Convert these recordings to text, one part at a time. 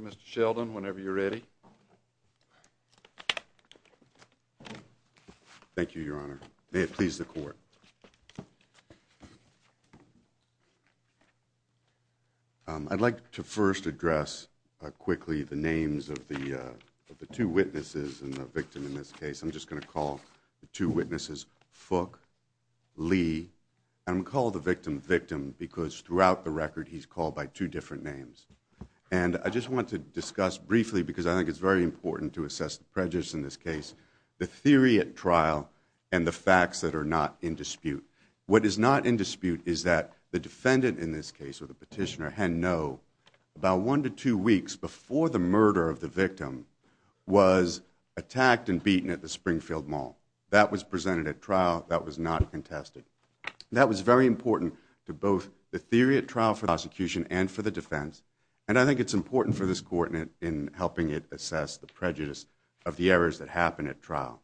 Mr. Sheldon, whenever you're ready. Thank you, Your Honor. I'd like to first address quickly the names of the two witnesses and the victim in this case. I'm just going to call the two witnesses Fook, Lee, and I'm going to call the victim, Victim, because throughout the record he's called by two different names. And I just want to discuss briefly, because I think it's very important to assess the theory at trial and the facts that are not in dispute. What is not in dispute is that the defendant in this case, or the petitioner, had no, about one to two weeks before the murder of the victim, was attacked and beaten at the Springfield Mall. That was presented at trial. That was not contested. That was very important to both the theory at trial for the prosecution and for the defense. And I think it's important for this Court in helping it assess the prejudice of the murder that happened at trial.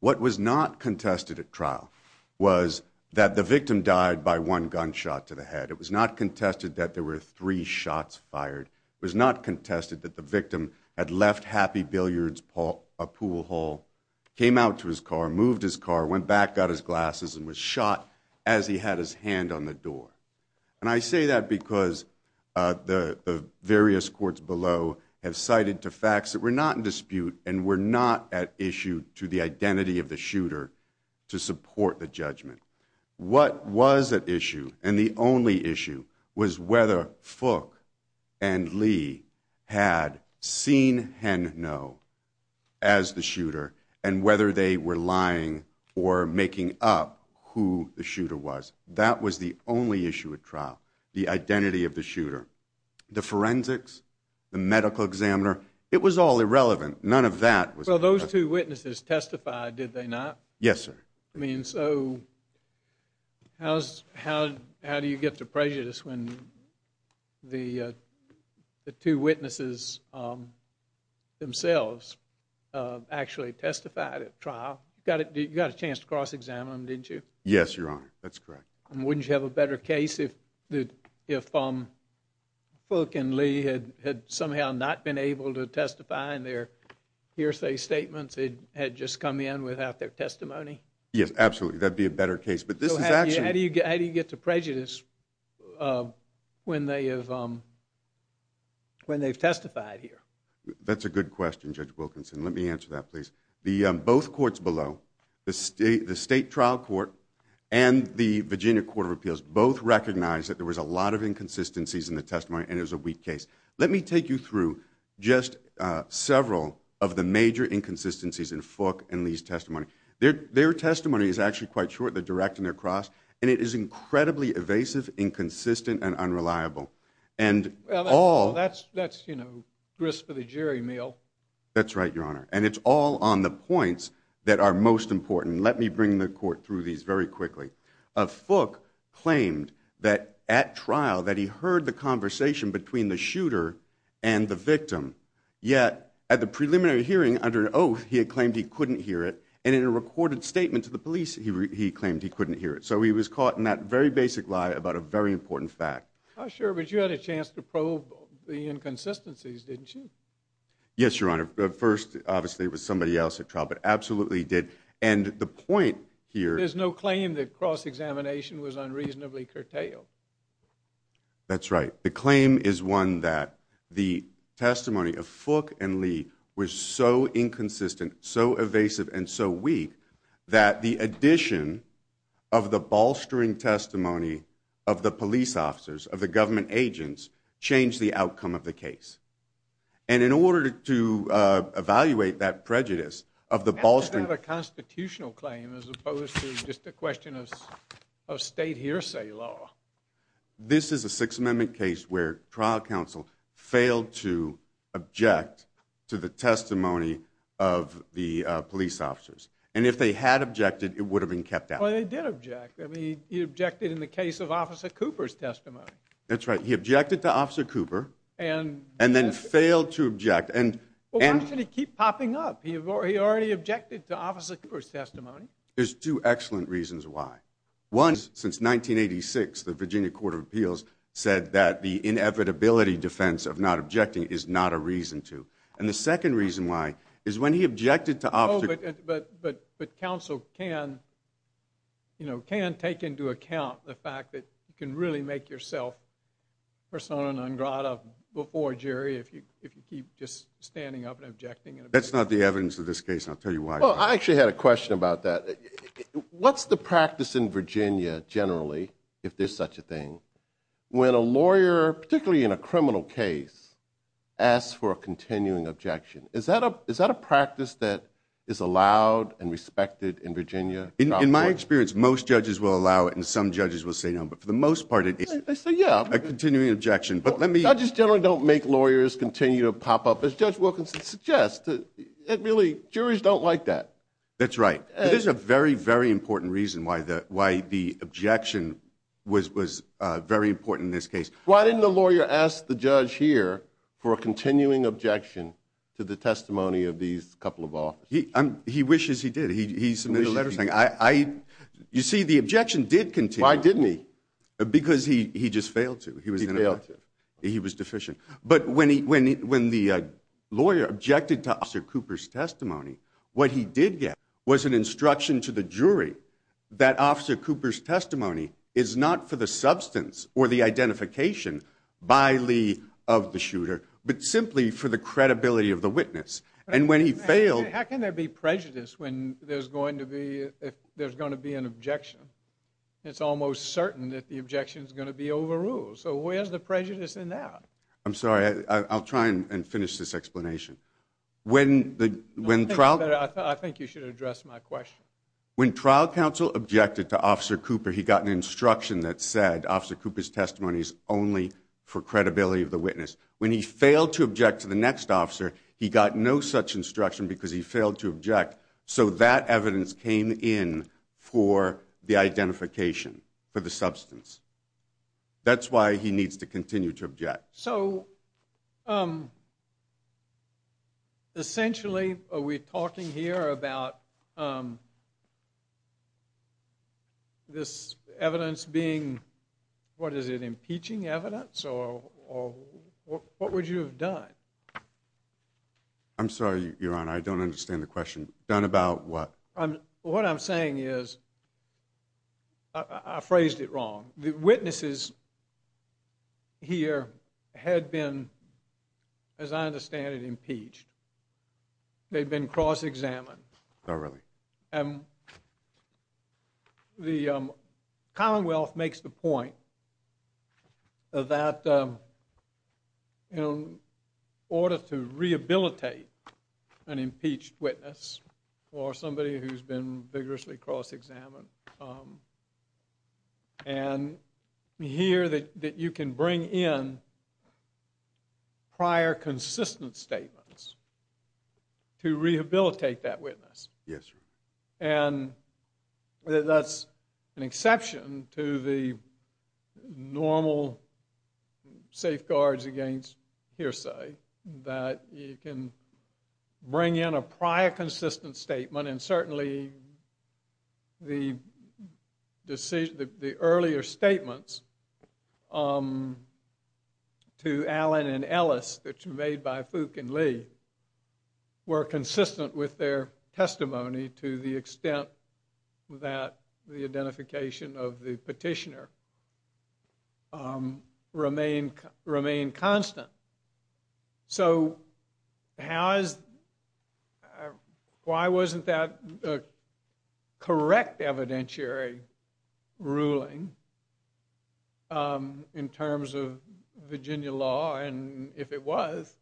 What was not contested at trial was that the victim died by one gunshot to the head. It was not contested that there were three shots fired. It was not contested that the victim had left Happy Billiards Pool Hall, came out to his car, moved his car, went back, got his glasses, and was shot as he had his hand on the door. And I say that because the various courts below have cited to facts that were not in dispute and were not at issue to the identity of the shooter to support the judgment. What was at issue, and the only issue, was whether Fook and Lee had seen Henno as the shooter and whether they were lying or making up who the shooter was. That was the only issue at trial, the identity of the shooter. The forensics, the medical examiner, it was all irrelevant. None of that was. Well, those two witnesses testified, did they not? Yes, sir. I mean, so how do you get the prejudice when the two witnesses themselves actually testified at trial? You got a chance to cross-examine them, didn't you? Yes, Your Honor. That's correct. And wouldn't you have a better case if Fook and Lee had somehow not been able to testify and their hearsay statements had just come in without their testimony? Yes, absolutely. That'd be a better case. But this is actually... So how do you get the prejudice when they've testified here? That's a good question, Judge Wilkinson. Let me answer that, please. Both courts below, the State Trial Court and the Virginia Court of Appeals both recognized that there was a lot of inconsistencies in the testimony and it was a weak case. Let me take you through just several of the major inconsistencies in Fook and Lee's testimony. Their testimony is actually quite short, they're directing their cross, and it is incredibly evasive, inconsistent, and unreliable. And all... Well, that's, you know, grist for the jerry meal. That's right, Your Honor. And it's all on the points that are most important. Let me bring the court through these very quickly. Fook claimed that at trial that he heard the conversation between the shooter and the victim, yet at the preliminary hearing under an oath, he had claimed he couldn't hear it, and in a recorded statement to the police, he claimed he couldn't hear it. So he was caught in that very basic lie about a very important fact. Sure, but you had a chance to probe the inconsistencies, didn't you? Yes, Your Honor. At first, obviously, it was somebody else at trial, but absolutely he did. And the point here... There's no claim that cross-examination was unreasonably curtailed. That's right. The claim is one that the testimony of Fook and Lee was so inconsistent, so evasive, and so weak, that the addition of the bolstering testimony of the police officers, of the government agents, changed the outcome of the case. And in order to evaluate that prejudice of the bolstering... That's not a constitutional claim as opposed to just a question of state hearsay law. This is a Sixth Amendment case where trial counsel failed to object to the testimony of the police officers. And if they had objected, it would have been kept out. Well, they did object. I mean, he objected in the case of Officer Cooper's testimony. That's right. He objected to Officer Cooper and then failed to object. And... Well, why should he keep popping up? He already objected to Officer Cooper's testimony. There's two excellent reasons why. One, since 1986, the Virginia Court of Appeals said that the inevitability defense of not objecting is not a reason to. But counsel can, you know, can take into account the fact that you can really make yourself persona non grata before, Jerry, if you keep just standing up and objecting. That's not the evidence of this case, and I'll tell you why. Well, I actually had a question about that. What's the practice in Virginia generally, if there's such a thing, when a lawyer, particularly in a criminal case, asks for a continuing objection? Is that a practice that is allowed and respected in Virginia? In my experience, most judges will allow it and some judges will say no. But for the most part, it is a continuing objection. But let me... Judges generally don't make lawyers continue to pop up, as Judge Wilkinson suggests. Really, juries don't like that. That's right. There's a very, very important reason why the objection was very important in this case. Why didn't the lawyer ask the judge here for a continuing objection to the testimony of these couple of officers? He wishes he did. He submitted a letter saying, I... You see, the objection did continue. Why didn't he? Because he just failed to. He failed to. He was deficient. But when the lawyer objected to Officer Cooper's testimony, what he did get was an instruction to the jury that Officer Cooper's testimony is not for the substance or the identification by Lee of the shooter, but simply for the credibility of the witness. And when he failed... How can there be prejudice when there's going to be an objection? It's almost certain that the objection is going to be overruled. So where's the prejudice in that? I'm sorry. I'll try and finish this explanation. When Trout... I think you should address my question. When trial counsel objected to Officer Cooper, he got an instruction that said Officer Cooper's testimony is only for credibility of the witness. When he failed to object to the next officer, he got no such instruction because he failed to object. So that evidence came in for the identification for the substance. That's why he needs to continue to object. So essentially, are we talking here about this evidence being, what is it, impeaching evidence or what would you have done? I'm sorry, Your Honor. I don't understand the question. Done about what? What I'm saying is, I phrased it wrong. The witnesses here had been, as I understand it, impeached. They'd been cross-examined. Oh, really? And the Commonwealth makes the point that in order to rehabilitate an impeached witness or somebody who's been vigorously cross-examined, and here that you can bring in prior consistent statements to rehabilitate that witness. Yes, sir. That's an exception to the normal safeguards against hearsay, that you can bring in a prior consistent statement, and certainly the earlier statements to Allen and Ellis that were made by Fook and Lee were consistent with their testimony to the extent that the identification of the petitioner remained constant. So, why wasn't that a correct evidentiary ruling in terms of Virginia law, and if it was,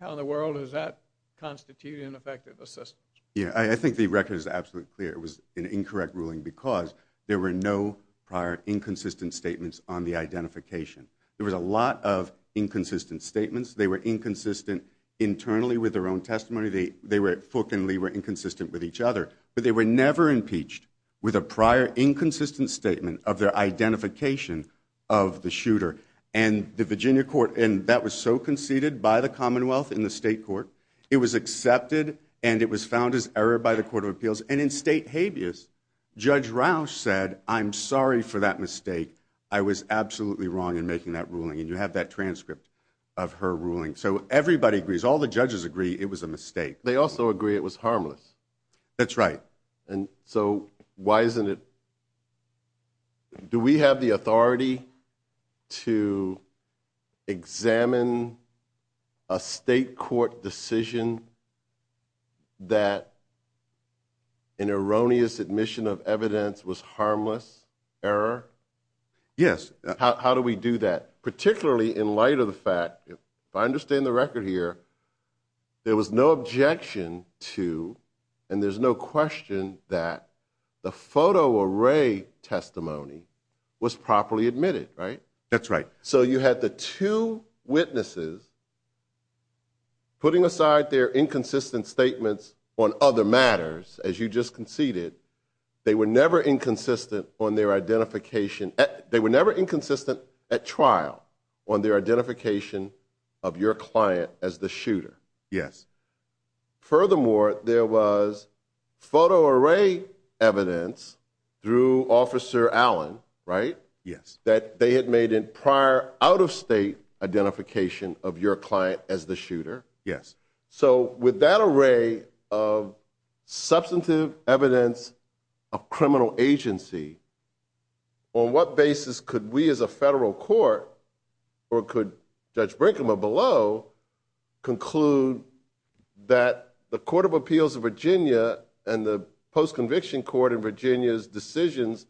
how in the world does that constitute ineffective assistance? I think the record is absolutely clear. It was an incorrect ruling because there were no prior inconsistent statements on the identification. There was a lot of inconsistent statements. They were inconsistent internally with their own testimony. They were, Fook and Lee, were inconsistent with each other, but they were never impeached with a prior inconsistent statement of their identification of the shooter. And the Virginia court, and that was so conceded by the Commonwealth in the state court, it was accepted and it was found as error by the Court of Appeals, and in state habeas, Judge Rausch said, I'm sorry for that mistake. I was absolutely wrong in making that ruling, and you have that transcript of her ruling. So, everybody agrees. All the judges agree it was a mistake. They also agree it was harmless. That's right. And so, why isn't it, do we have the authority to examine a state court decision that an Yes. How do we do that? Particularly in light of the fact, if I understand the record here, there was no objection to, and there's no question that the photo array testimony was properly admitted, right? That's right. So, you had the two witnesses putting aside their inconsistent statements on other matters, as you just conceded, they were never inconsistent on their identification, they were never inconsistent at trial on their identification of your client as the shooter. Yes. Furthermore, there was photo array evidence through Officer Allen, right? Yes. That they had made in prior out of state identification of your client as the shooter. Yes. So, with that array of substantive evidence of criminal agency, on what basis could we as a federal court, or could Judge Brinkman below, conclude that the Court of Appeals of Virginia and the Post-Conviction Court of Virginia's decisions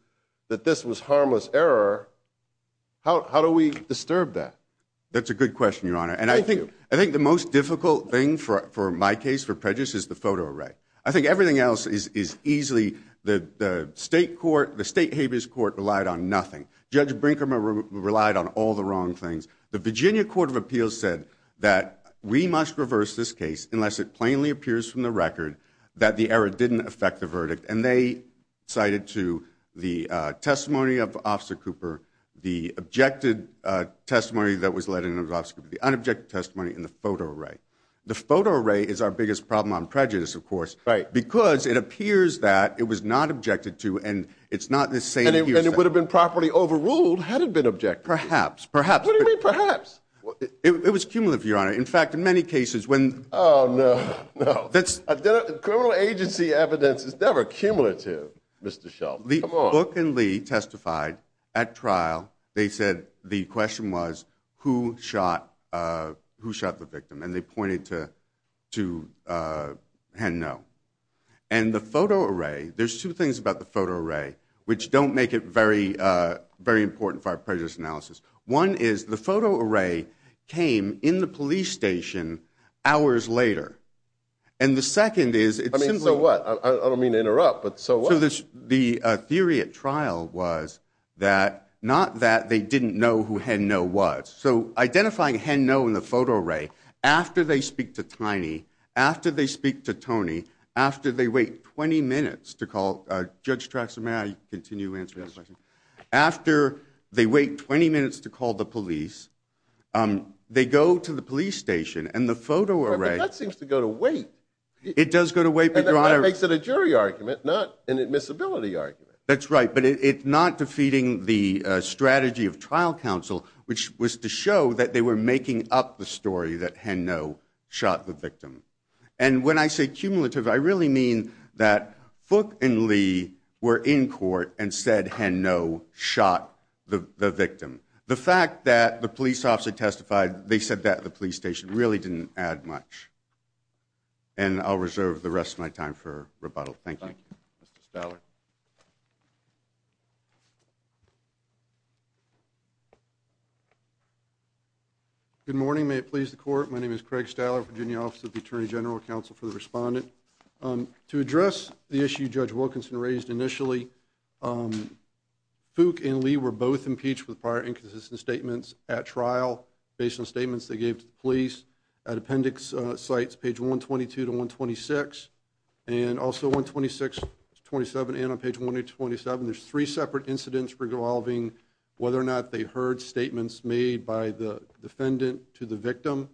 that this was harmless error, how do we disturb that? That's a good question, Your Honor. Thank you. I think the most difficult thing for my case, for prejudice, is the photo array. I think everything else is easily, the state court, the state habeas court relied on nothing. Judge Brinkman relied on all the wrong things. The Virginia Court of Appeals said that we must reverse this case unless it plainly appears from the record that the error didn't affect the verdict, and they cited to the testimony of Officer Cooper, the objected testimony that was led in Officer Cooper, the unobjected testimony in the photo array. The photo array is our biggest problem on prejudice, of course, because it appears that it was not objected to, and it's not the same here. And it would have been properly overruled had it been objected to. Perhaps, perhaps. What do you mean, perhaps? It was cumulative, Your Honor. In fact, in many cases, when... Oh, no. Criminal agency evidence is never cumulative, Mr. Shultz. Come on. When Book and Lee testified at trial, they said the question was, who shot the victim? And they pointed to a hand no. And the photo array, there's two things about the photo array which don't make it very important for our prejudice analysis. One is the photo array came in the police station hours later. And the second is... I mean, so what? I don't mean to interrupt, but so what? So the theory at trial was that, not that they didn't know who hand no was. So identifying hand no in the photo array, after they speak to Tiny, after they speak to Tony, after they wait 20 minutes to call... Judge Traxler, may I continue answering that question? Yes. After they wait 20 minutes to call the police, they go to the police station, and the photo array... It does go to wait, but Your Honor... But that makes it a jury argument, not an admissibility argument. That's right. But it's not defeating the strategy of trial counsel, which was to show that they were making up the story that hand no shot the victim. And when I say cumulative, I really mean that Book and Lee were in court and said hand no shot the victim. The fact that the police officer testified, they said that at the police station, really didn't add much. And I'll reserve the rest of my time for rebuttal. Thank you. Thank you. Mr. Staller. Good morning. May it please the court. My name is Craig Staller, Virginia Office of the Attorney General, Counsel for the Respondent. To address the issue Judge Wilkinson raised initially, Book and Lee were both impeached with prior inconsistent statements at trial, based on statements they gave to the police. At appendix sites, page 122 to 126, and also 126 to 127, and on page 127, there's three separate incidents regarding whether or not they heard statements made by the defendant to the victim.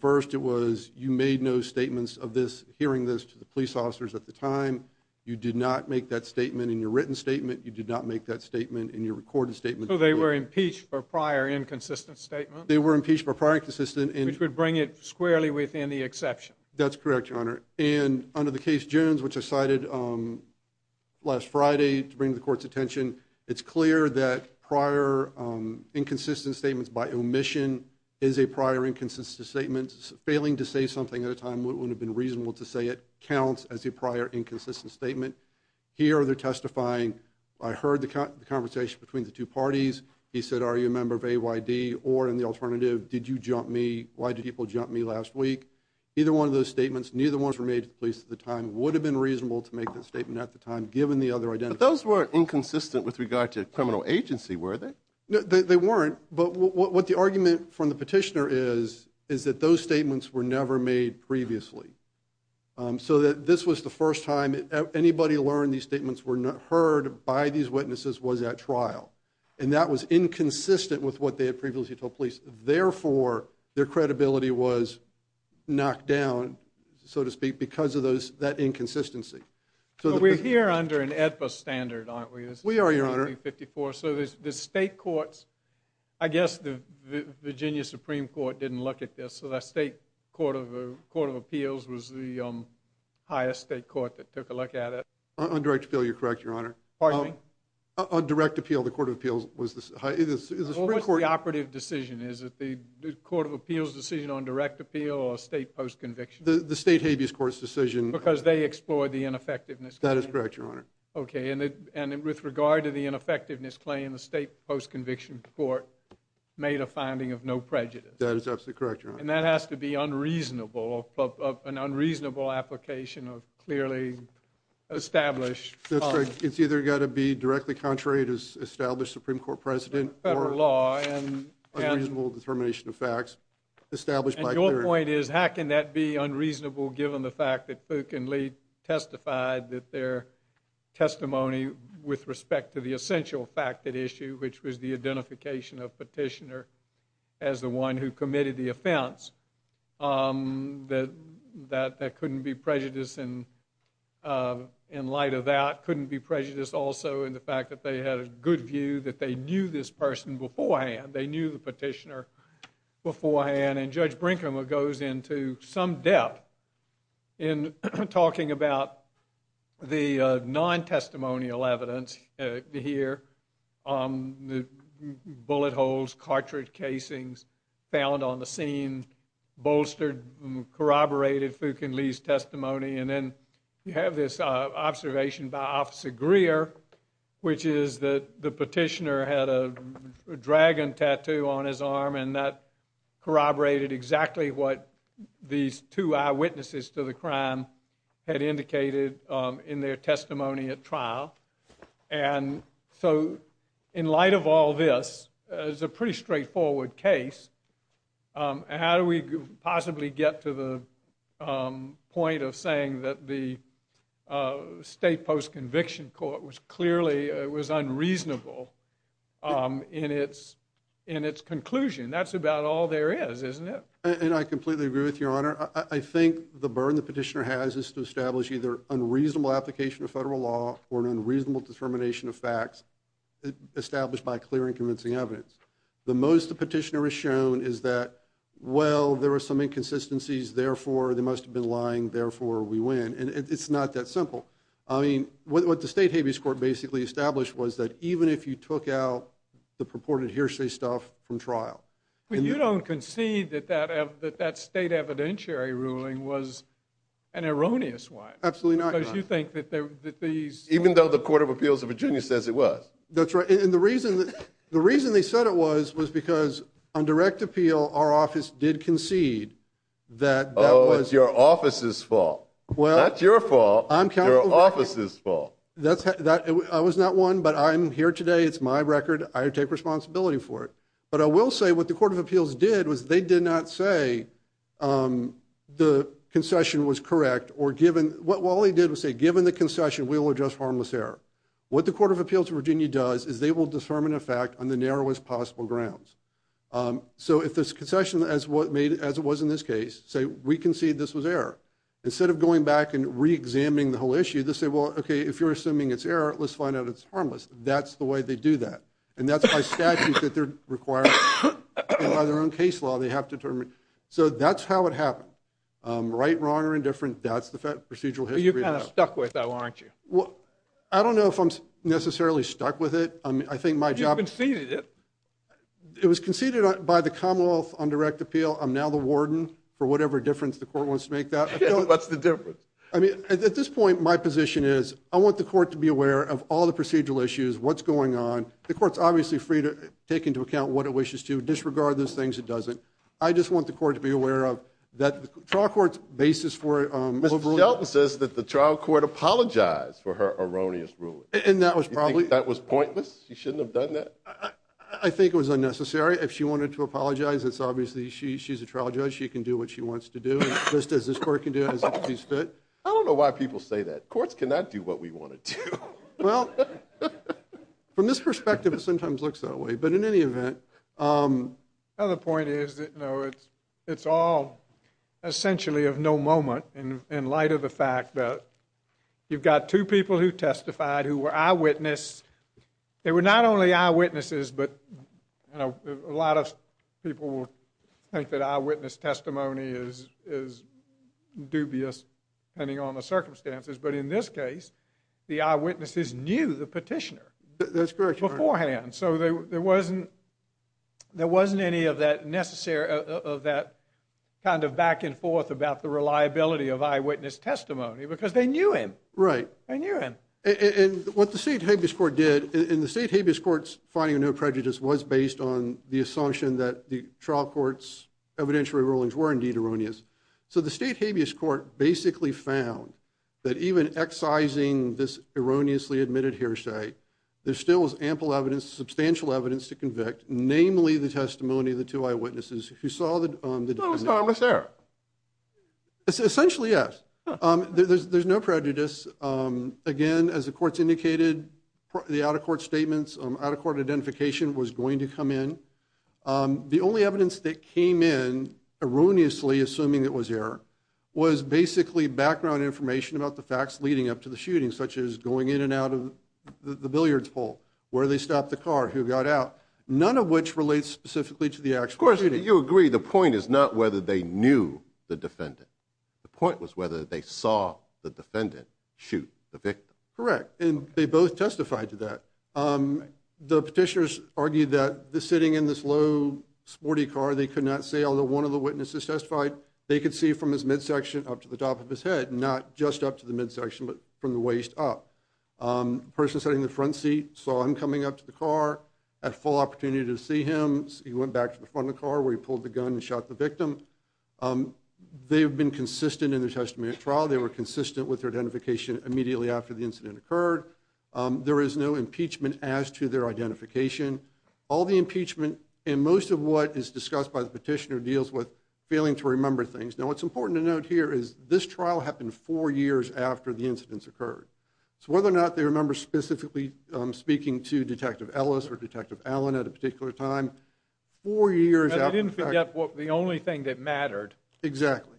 First, it was, you made no statements of this, hearing this to the police officers at the time. You did not make that statement in your written statement. You did not make that statement in your recorded statement. So they were impeached for prior inconsistent statements? They were impeached for prior inconsistent and... Which would bring it squarely within the exception. That's correct, Your Honor. And under the case Jones, which I cited last Friday to bring to the court's attention, it's clear that prior inconsistent statements by omission is a prior inconsistent statement. Failing to say something at a time when it would have been reasonable to say it counts as a prior inconsistent statement. Here they're testifying, I heard the conversation between the two parties. He said, are you a member of AYD, or in the alternative, did you jump me? Why did people jump me last week? Either one of those statements, neither one was made to the police at the time, would have been reasonable to make that statement at the time, given the other identity. Those were inconsistent with regard to criminal agency, were they? They weren't, but what the argument from the petitioner is, is that those statements were never made previously. So that this was the first time anybody learned these statements were heard by these witnesses was at trial. And that was inconsistent with what they had previously told police, therefore their credibility was knocked down, so to speak, because of that inconsistency. But we're here under an AEDPA standard, aren't we? We are, Your Honor. This is 1954. So the state courts, I guess the Virginia Supreme Court didn't look at this, so that state court of appeals was the highest state court that took a look at it. On direct appeal, you're correct, Your Honor. Pardon me? On direct appeal, the court of appeals was the highest, is the Supreme Court... Well, what's the operative decision? Is it the court of appeals' decision on direct appeal or state post-conviction? The state habeas court's decision... Because they explored the ineffectiveness claim. That is correct, Your Honor. Okay, and with regard to the ineffectiveness claim, the state post-conviction court made a finding of no prejudice. That is absolutely correct, Your Honor. And that has to be unreasonable, an unreasonable application of clearly established... It's either got to be directly contrary to established Supreme Court precedent or unreasonable determination of facts established by clearly... And your point is how can that be unreasonable given the fact that Fook and Lee testified that their testimony with respect to the essential fact at issue, which was the identification of petitioner as the one who committed the offense, that that couldn't be prejudice in light of that, couldn't be prejudice also in the fact that they had a good view that they knew this person beforehand, they knew the petitioner beforehand. And Judge Brinkheimer goes into some depth in talking about the non-testimonial evidence here, bullet holes, cartridge casings found on the scene, bolstered, corroborated Fook You have this observation by Officer Greer, which is that the petitioner had a dragon tattoo on his arm and that corroborated exactly what these two eyewitnesses to the crime had indicated in their testimony at trial. And so in light of all this, it's a pretty straightforward case, and how do we possibly get to the point of saying that the state post-conviction court was clearly, it was unreasonable in its conclusion? That's about all there is, isn't it? And I completely agree with you, Your Honor. I think the burden the petitioner has is to establish either unreasonable application of federal law or an unreasonable determination of facts established by clear and convincing evidence. The most the petitioner has shown is that, well, there are some inconsistencies, therefore they must have been lying, therefore we win. And it's not that simple. I mean, what the state habeas court basically established was that even if you took out the purported hearsay stuff from trial- But you don't concede that that state evidentiary ruling was an erroneous one. Absolutely not, Your Honor. Because you think that these- Even though the Court of Appeals of Virginia says it was. That's right. And the reason they said it was was because on direct appeal, our office did concede that that was- Oh, it's your office's fault. Well- Not your fault, your office's fault. I was not one, but I'm here today. It's my record. I take responsibility for it. But I will say what the Court of Appeals did was they did not say the concession was correct or given- All they did was say, given the concession, we will adjust harmless error. What the Court of Appeals of Virginia does is they will determine a fact on the narrowest possible grounds. So if this concession, as it was in this case, say we concede this was error, instead of going back and re-examining the whole issue, they'll say, well, okay, if you're assuming it's error, let's find out it's harmless. That's the way they do that. And that's by statute that they're required to do that. And by their own case law, they have to determine. So that's how it happened. Right, wrong, or indifferent, that's the procedural history. But you kind of stuck with that, weren't you? I don't know if I'm necessarily stuck with it. I think my job- You conceded it. It was conceded by the Commonwealth on direct appeal. I'm now the warden, for whatever difference the court wants to make that. What's the difference? I mean, at this point, my position is I want the court to be aware of all the procedural issues, what's going on. The court's obviously free to take into account what it wishes to, disregard those things it doesn't. I just want the court to be aware of that the trial court's basis for- Ms. Shelton says that the trial court apologized for her erroneous ruling. And that was probably- You think that was pointless? She shouldn't have done that? I think it was unnecessary. If she wanted to apologize, it's obviously, she's a trial judge, she can do what she wants to do, just as this court can do as it pleases it. I don't know why people say that. Courts cannot do what we want to do. Well, from this perspective, it sometimes looks that way. But in any event- The other point is that, no, it's all essentially of no moment in light of the fact that you've got two people who testified who were eyewitness. They were not only eyewitnesses, but a lot of people think that eyewitness testimony is dubious, depending on the circumstances. But in this case, the eyewitnesses knew the petitioner beforehand. So there wasn't any of that back and forth about the reliability of eyewitness testimony, because they knew him. Right. They knew him. And what the State Habeas Court did, and the State Habeas Court's finding of no prejudice was based on the assumption that the trial court's evidentiary rulings were indeed erroneous. So the State Habeas Court basically found that even excising this erroneously admitted hearsay, there still was ample evidence, substantial evidence to convict, namely the testimony of the two eyewitnesses who saw the- So it was harmless error. Essentially yes. There's no prejudice. Again, as the courts indicated, the out-of-court statements, out-of-court identification was going to come in. The only evidence that came in erroneously, assuming it was error, was basically background information about the facts leading up to the shooting, such as going in and out of the billiards pool, where they stopped the car, who got out, none of which relates specifically to the actual shooting. Of course, you agree. The point is not whether they knew the defendant. The point was whether they saw the defendant shoot the victim. Correct. And they both testified to that. The petitioners argued that the sitting in this low, sporty car, they could not see, although one of the witnesses testified, they could see from his midsection up to the top of his head, not just up to the midsection, but from the waist up. Person sitting in the front seat saw him coming up to the car, had full opportunity to see him. He went back to the front of the car where he pulled the gun and shot the victim. They have been consistent in their testimony at trial. They were consistent with their identification immediately after the incident occurred. There is no impeachment as to their identification. All the impeachment and most of what is discussed by the petitioner deals with failing to remember things. Now, what's important to note here is this trial happened four years after the incidents occurred. So, whether or not they remember specifically speaking to Detective Ellis or Detective Allen at a particular time, four years after the fact. But they didn't forget the only thing that mattered. Exactly.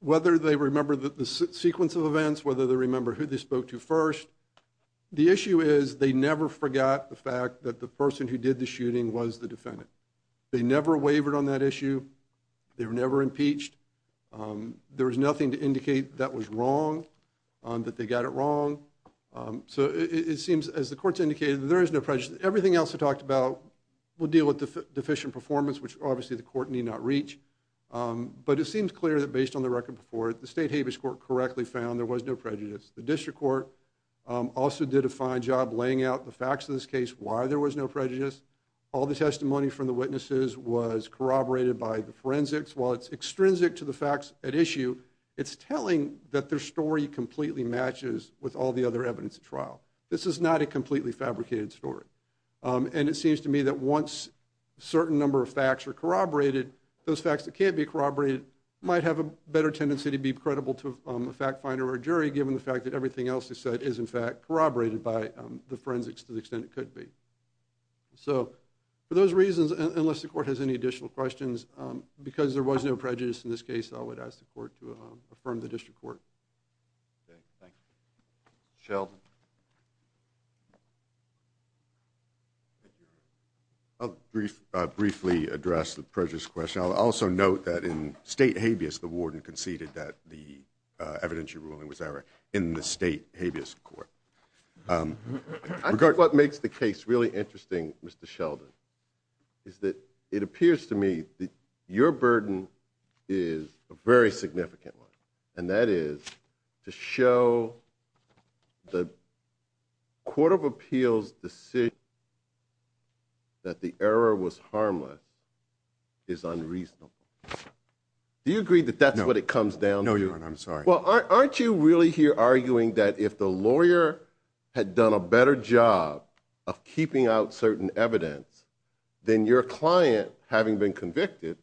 Whether they remember the sequence of events, whether they remember who they spoke to first, the issue is they never forgot the fact that the person who did the shooting was the defendant. They never wavered on that issue. They were never impeached. There was nothing to indicate that was wrong, that they got it wrong. So it seems, as the courts indicated, there is no prejudice. Everything else I talked about will deal with deficient performance, which obviously the court need not reach. But it seems clear that based on the record before it, the State Habeas Court correctly found there was no prejudice. The District Court also did a fine job laying out the facts of this case, why there was no prejudice. All the testimony from the witnesses was corroborated by the forensics. While it's extrinsic to the facts at issue, it's telling that their story completely matches with all the other evidence at trial. This is not a completely fabricated story. And it seems to me that once a certain number of facts are corroborated, those facts that can't be corroborated might have a better tendency to be credible to a fact finder or jury given the fact that everything else they said is in fact corroborated by the forensics to the extent it could be. So for those reasons, unless the court has any additional questions, because there was no prejudice in this case, I would ask the court to affirm the District Court. Sheldon? I'll briefly address the prejudice question. I'll also note that in State Habeas, the warden conceded that the evidentiary ruling was error in the State Habeas Court. I think what makes the case really interesting, Mr. Sheldon, is that it appears to me that your burden is a very significant one. And that is to show the Court of Appeals decision that the error was harmless is unreasonable. Do you agree that that's what it comes down to? No, Your Honor. I'm sorry. Well, aren't you really here arguing that if the lawyer had done a better job of keeping out certain evidence, then your client, having been convicted,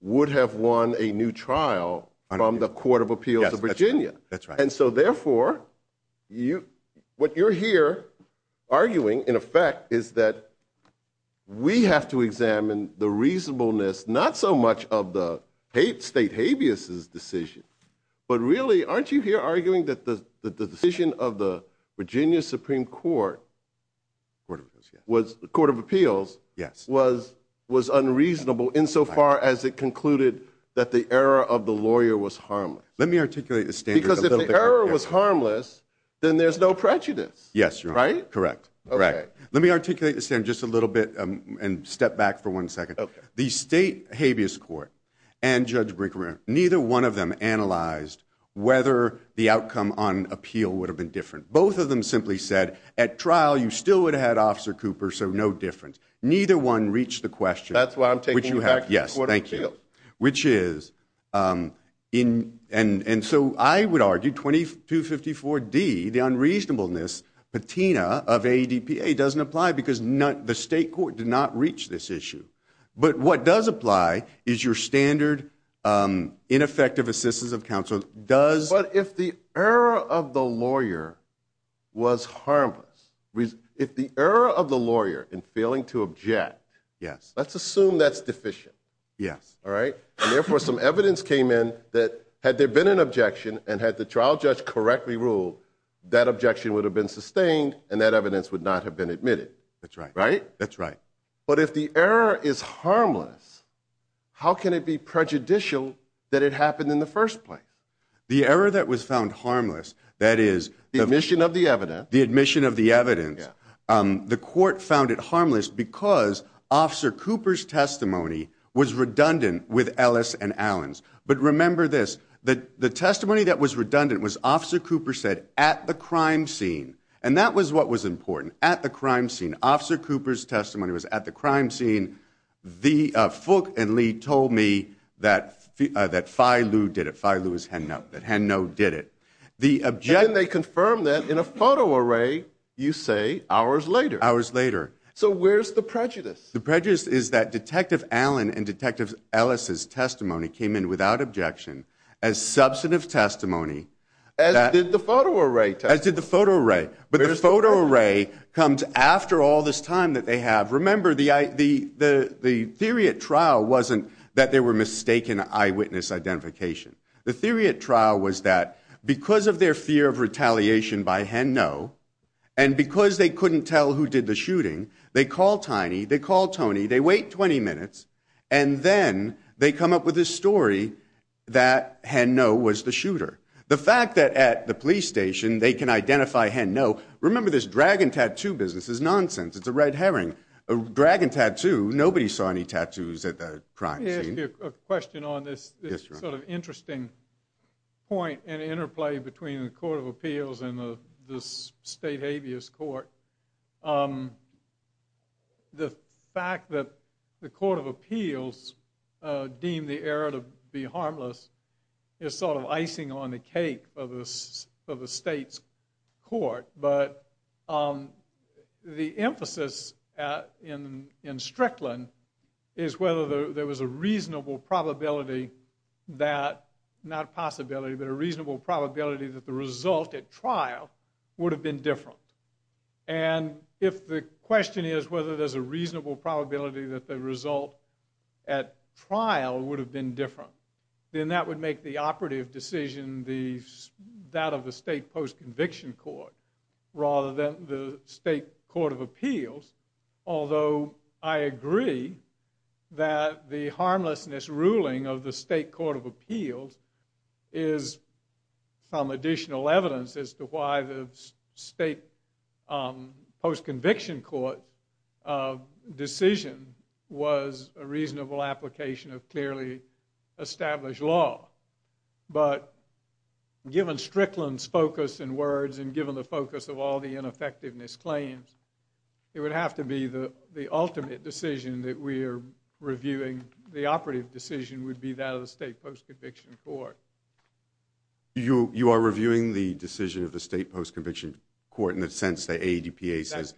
would have won a new trial from the Court of Appeals of Virginia. And so therefore, what you're here arguing, in effect, is that we have to examine the Aren't you here arguing that the decision of the Virginia Supreme Court, the Court of Appeals, was unreasonable insofar as it concluded that the error of the lawyer was harmless? Let me articulate the standard. Because if the error was harmless, then there's no prejudice, right? Correct. Let me articulate the standard just a little bit and step back for one second. The State Habeas Court and Judge Brinkman, neither one of them analyzed whether the outcome on appeal would have been different. Both of them simply said, at trial, you still would have had Officer Cooper, so no difference. Neither one reached the question. That's why I'm taking you back to the Court of Appeals. Which is, and so I would argue 2254D, the unreasonableness patina of AEDPA doesn't apply because the state court did not reach this issue. But what does apply is your standard ineffective assistance of counsel does But if the error of the lawyer was harmless, if the error of the lawyer in failing to object, let's assume that's deficient. Yes. All right? And therefore, some evidence came in that, had there been an objection and had the trial judge correctly ruled, that objection would have been sustained and that evidence would not have been admitted. That's right. Right? That's right. But if the error is harmless, how can it be prejudicial that it happened in the first place? The error that was found harmless, that is, the admission of the evidence, the court found it harmless because Officer Cooper's testimony was redundant with Ellis and Allen's. But remember this, the testimony that was redundant was Officer Cooper said, at the crime scene, Officer Cooper's testimony was at the crime scene, the Fook and Lee told me that Phi Liu did it, Phi Liu is Heno, that Heno did it. The objection... And then they confirm that in a photo array, you say, hours later. Hours later. So where's the prejudice? The prejudice is that Detective Allen and Detective Ellis's testimony came in without objection as substantive testimony. As did the photo array testimony. As did the photo array. But the photo array comes after all this time that they have. Remember, the theory at trial wasn't that they were mistaken eyewitness identification. The theory at trial was that because of their fear of retaliation by Heno, and because they couldn't tell who did the shooting, they call Tiny, they call Tony, they wait 20 minutes, and then they come up with this story that Heno was the shooter. The fact that at the police station, they can identify Heno, remember this dragon tattoo business is nonsense, it's a red herring, a dragon tattoo, nobody saw any tattoos at the crime scene. Let me ask you a question on this sort of interesting point and interplay between the Court of Appeals and the State Habeas Court. The fact that the Court of Appeals deemed the error to be harmless is sort of icing on the cake for the state's court, but the emphasis in Strickland is whether there was a reasonable probability that, not possibility, but a reasonable probability that the result at trial would have been different, and if the question is whether there's a reasonable probability that the result at trial would have been different, then that would make the operative decision that of the state post-conviction court, rather than the state Court of Appeals, although I agree that the harmlessness ruling of the state Court of Appeals is some additional evidence as to why the state post-conviction court decision was a reasonable application of clearly established law, but given Strickland's focus and words and given the focus of all the ineffectiveness claims, it would have to be the ultimate decision that we are reviewing, the operative decision would be that of the state post-conviction court. You are reviewing the decision of the state post-conviction court in the sense that AEDPA says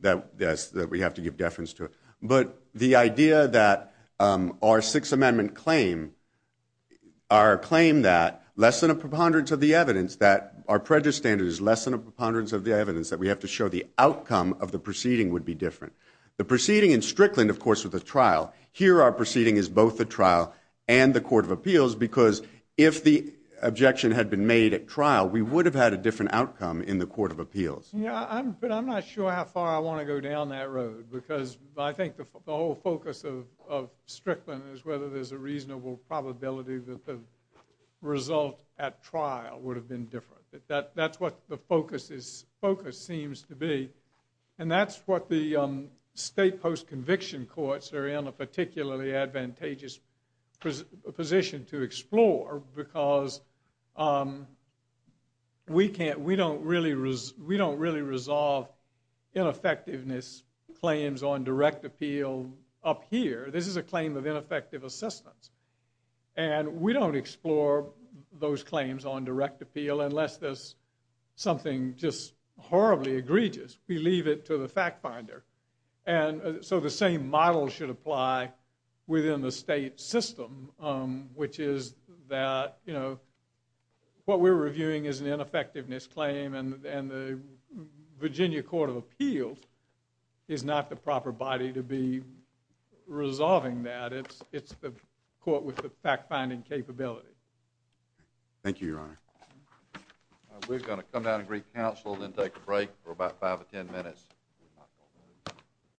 that we have to give deference to it, but the idea that our Sixth Amendment claim, our claim that less than a preponderance of the evidence, that our prejudice standard is less than a preponderance of the evidence, that we have to show the outcome of the proceeding would be different. The proceeding in Strickland, of course, with the trial, here our proceeding is both the If the objection had been made at trial, we would have had a different outcome in the Court of Appeals. Yeah, but I'm not sure how far I want to go down that road because I think the whole focus of Strickland is whether there's a reasonable probability that the result at trial would have been different. That's what the focus seems to be, and that's what the state post-conviction courts are in a particularly advantageous position to explore because we can't, we don't really resolve ineffectiveness claims on direct appeal up here. This is a claim of ineffective assistance, and we don't explore those claims on direct appeal unless there's something just horribly egregious. We leave it to the fact finder, and so the same model should apply within the state system, which is that, you know, what we're reviewing is an ineffectiveness claim, and the Virginia Court of Appeals is not the proper body to be resolving that. It's the court with the fact-finding capability. Thank you, Your Honor. We're going to come down and greet counsel, then take a break for about five or ten minutes.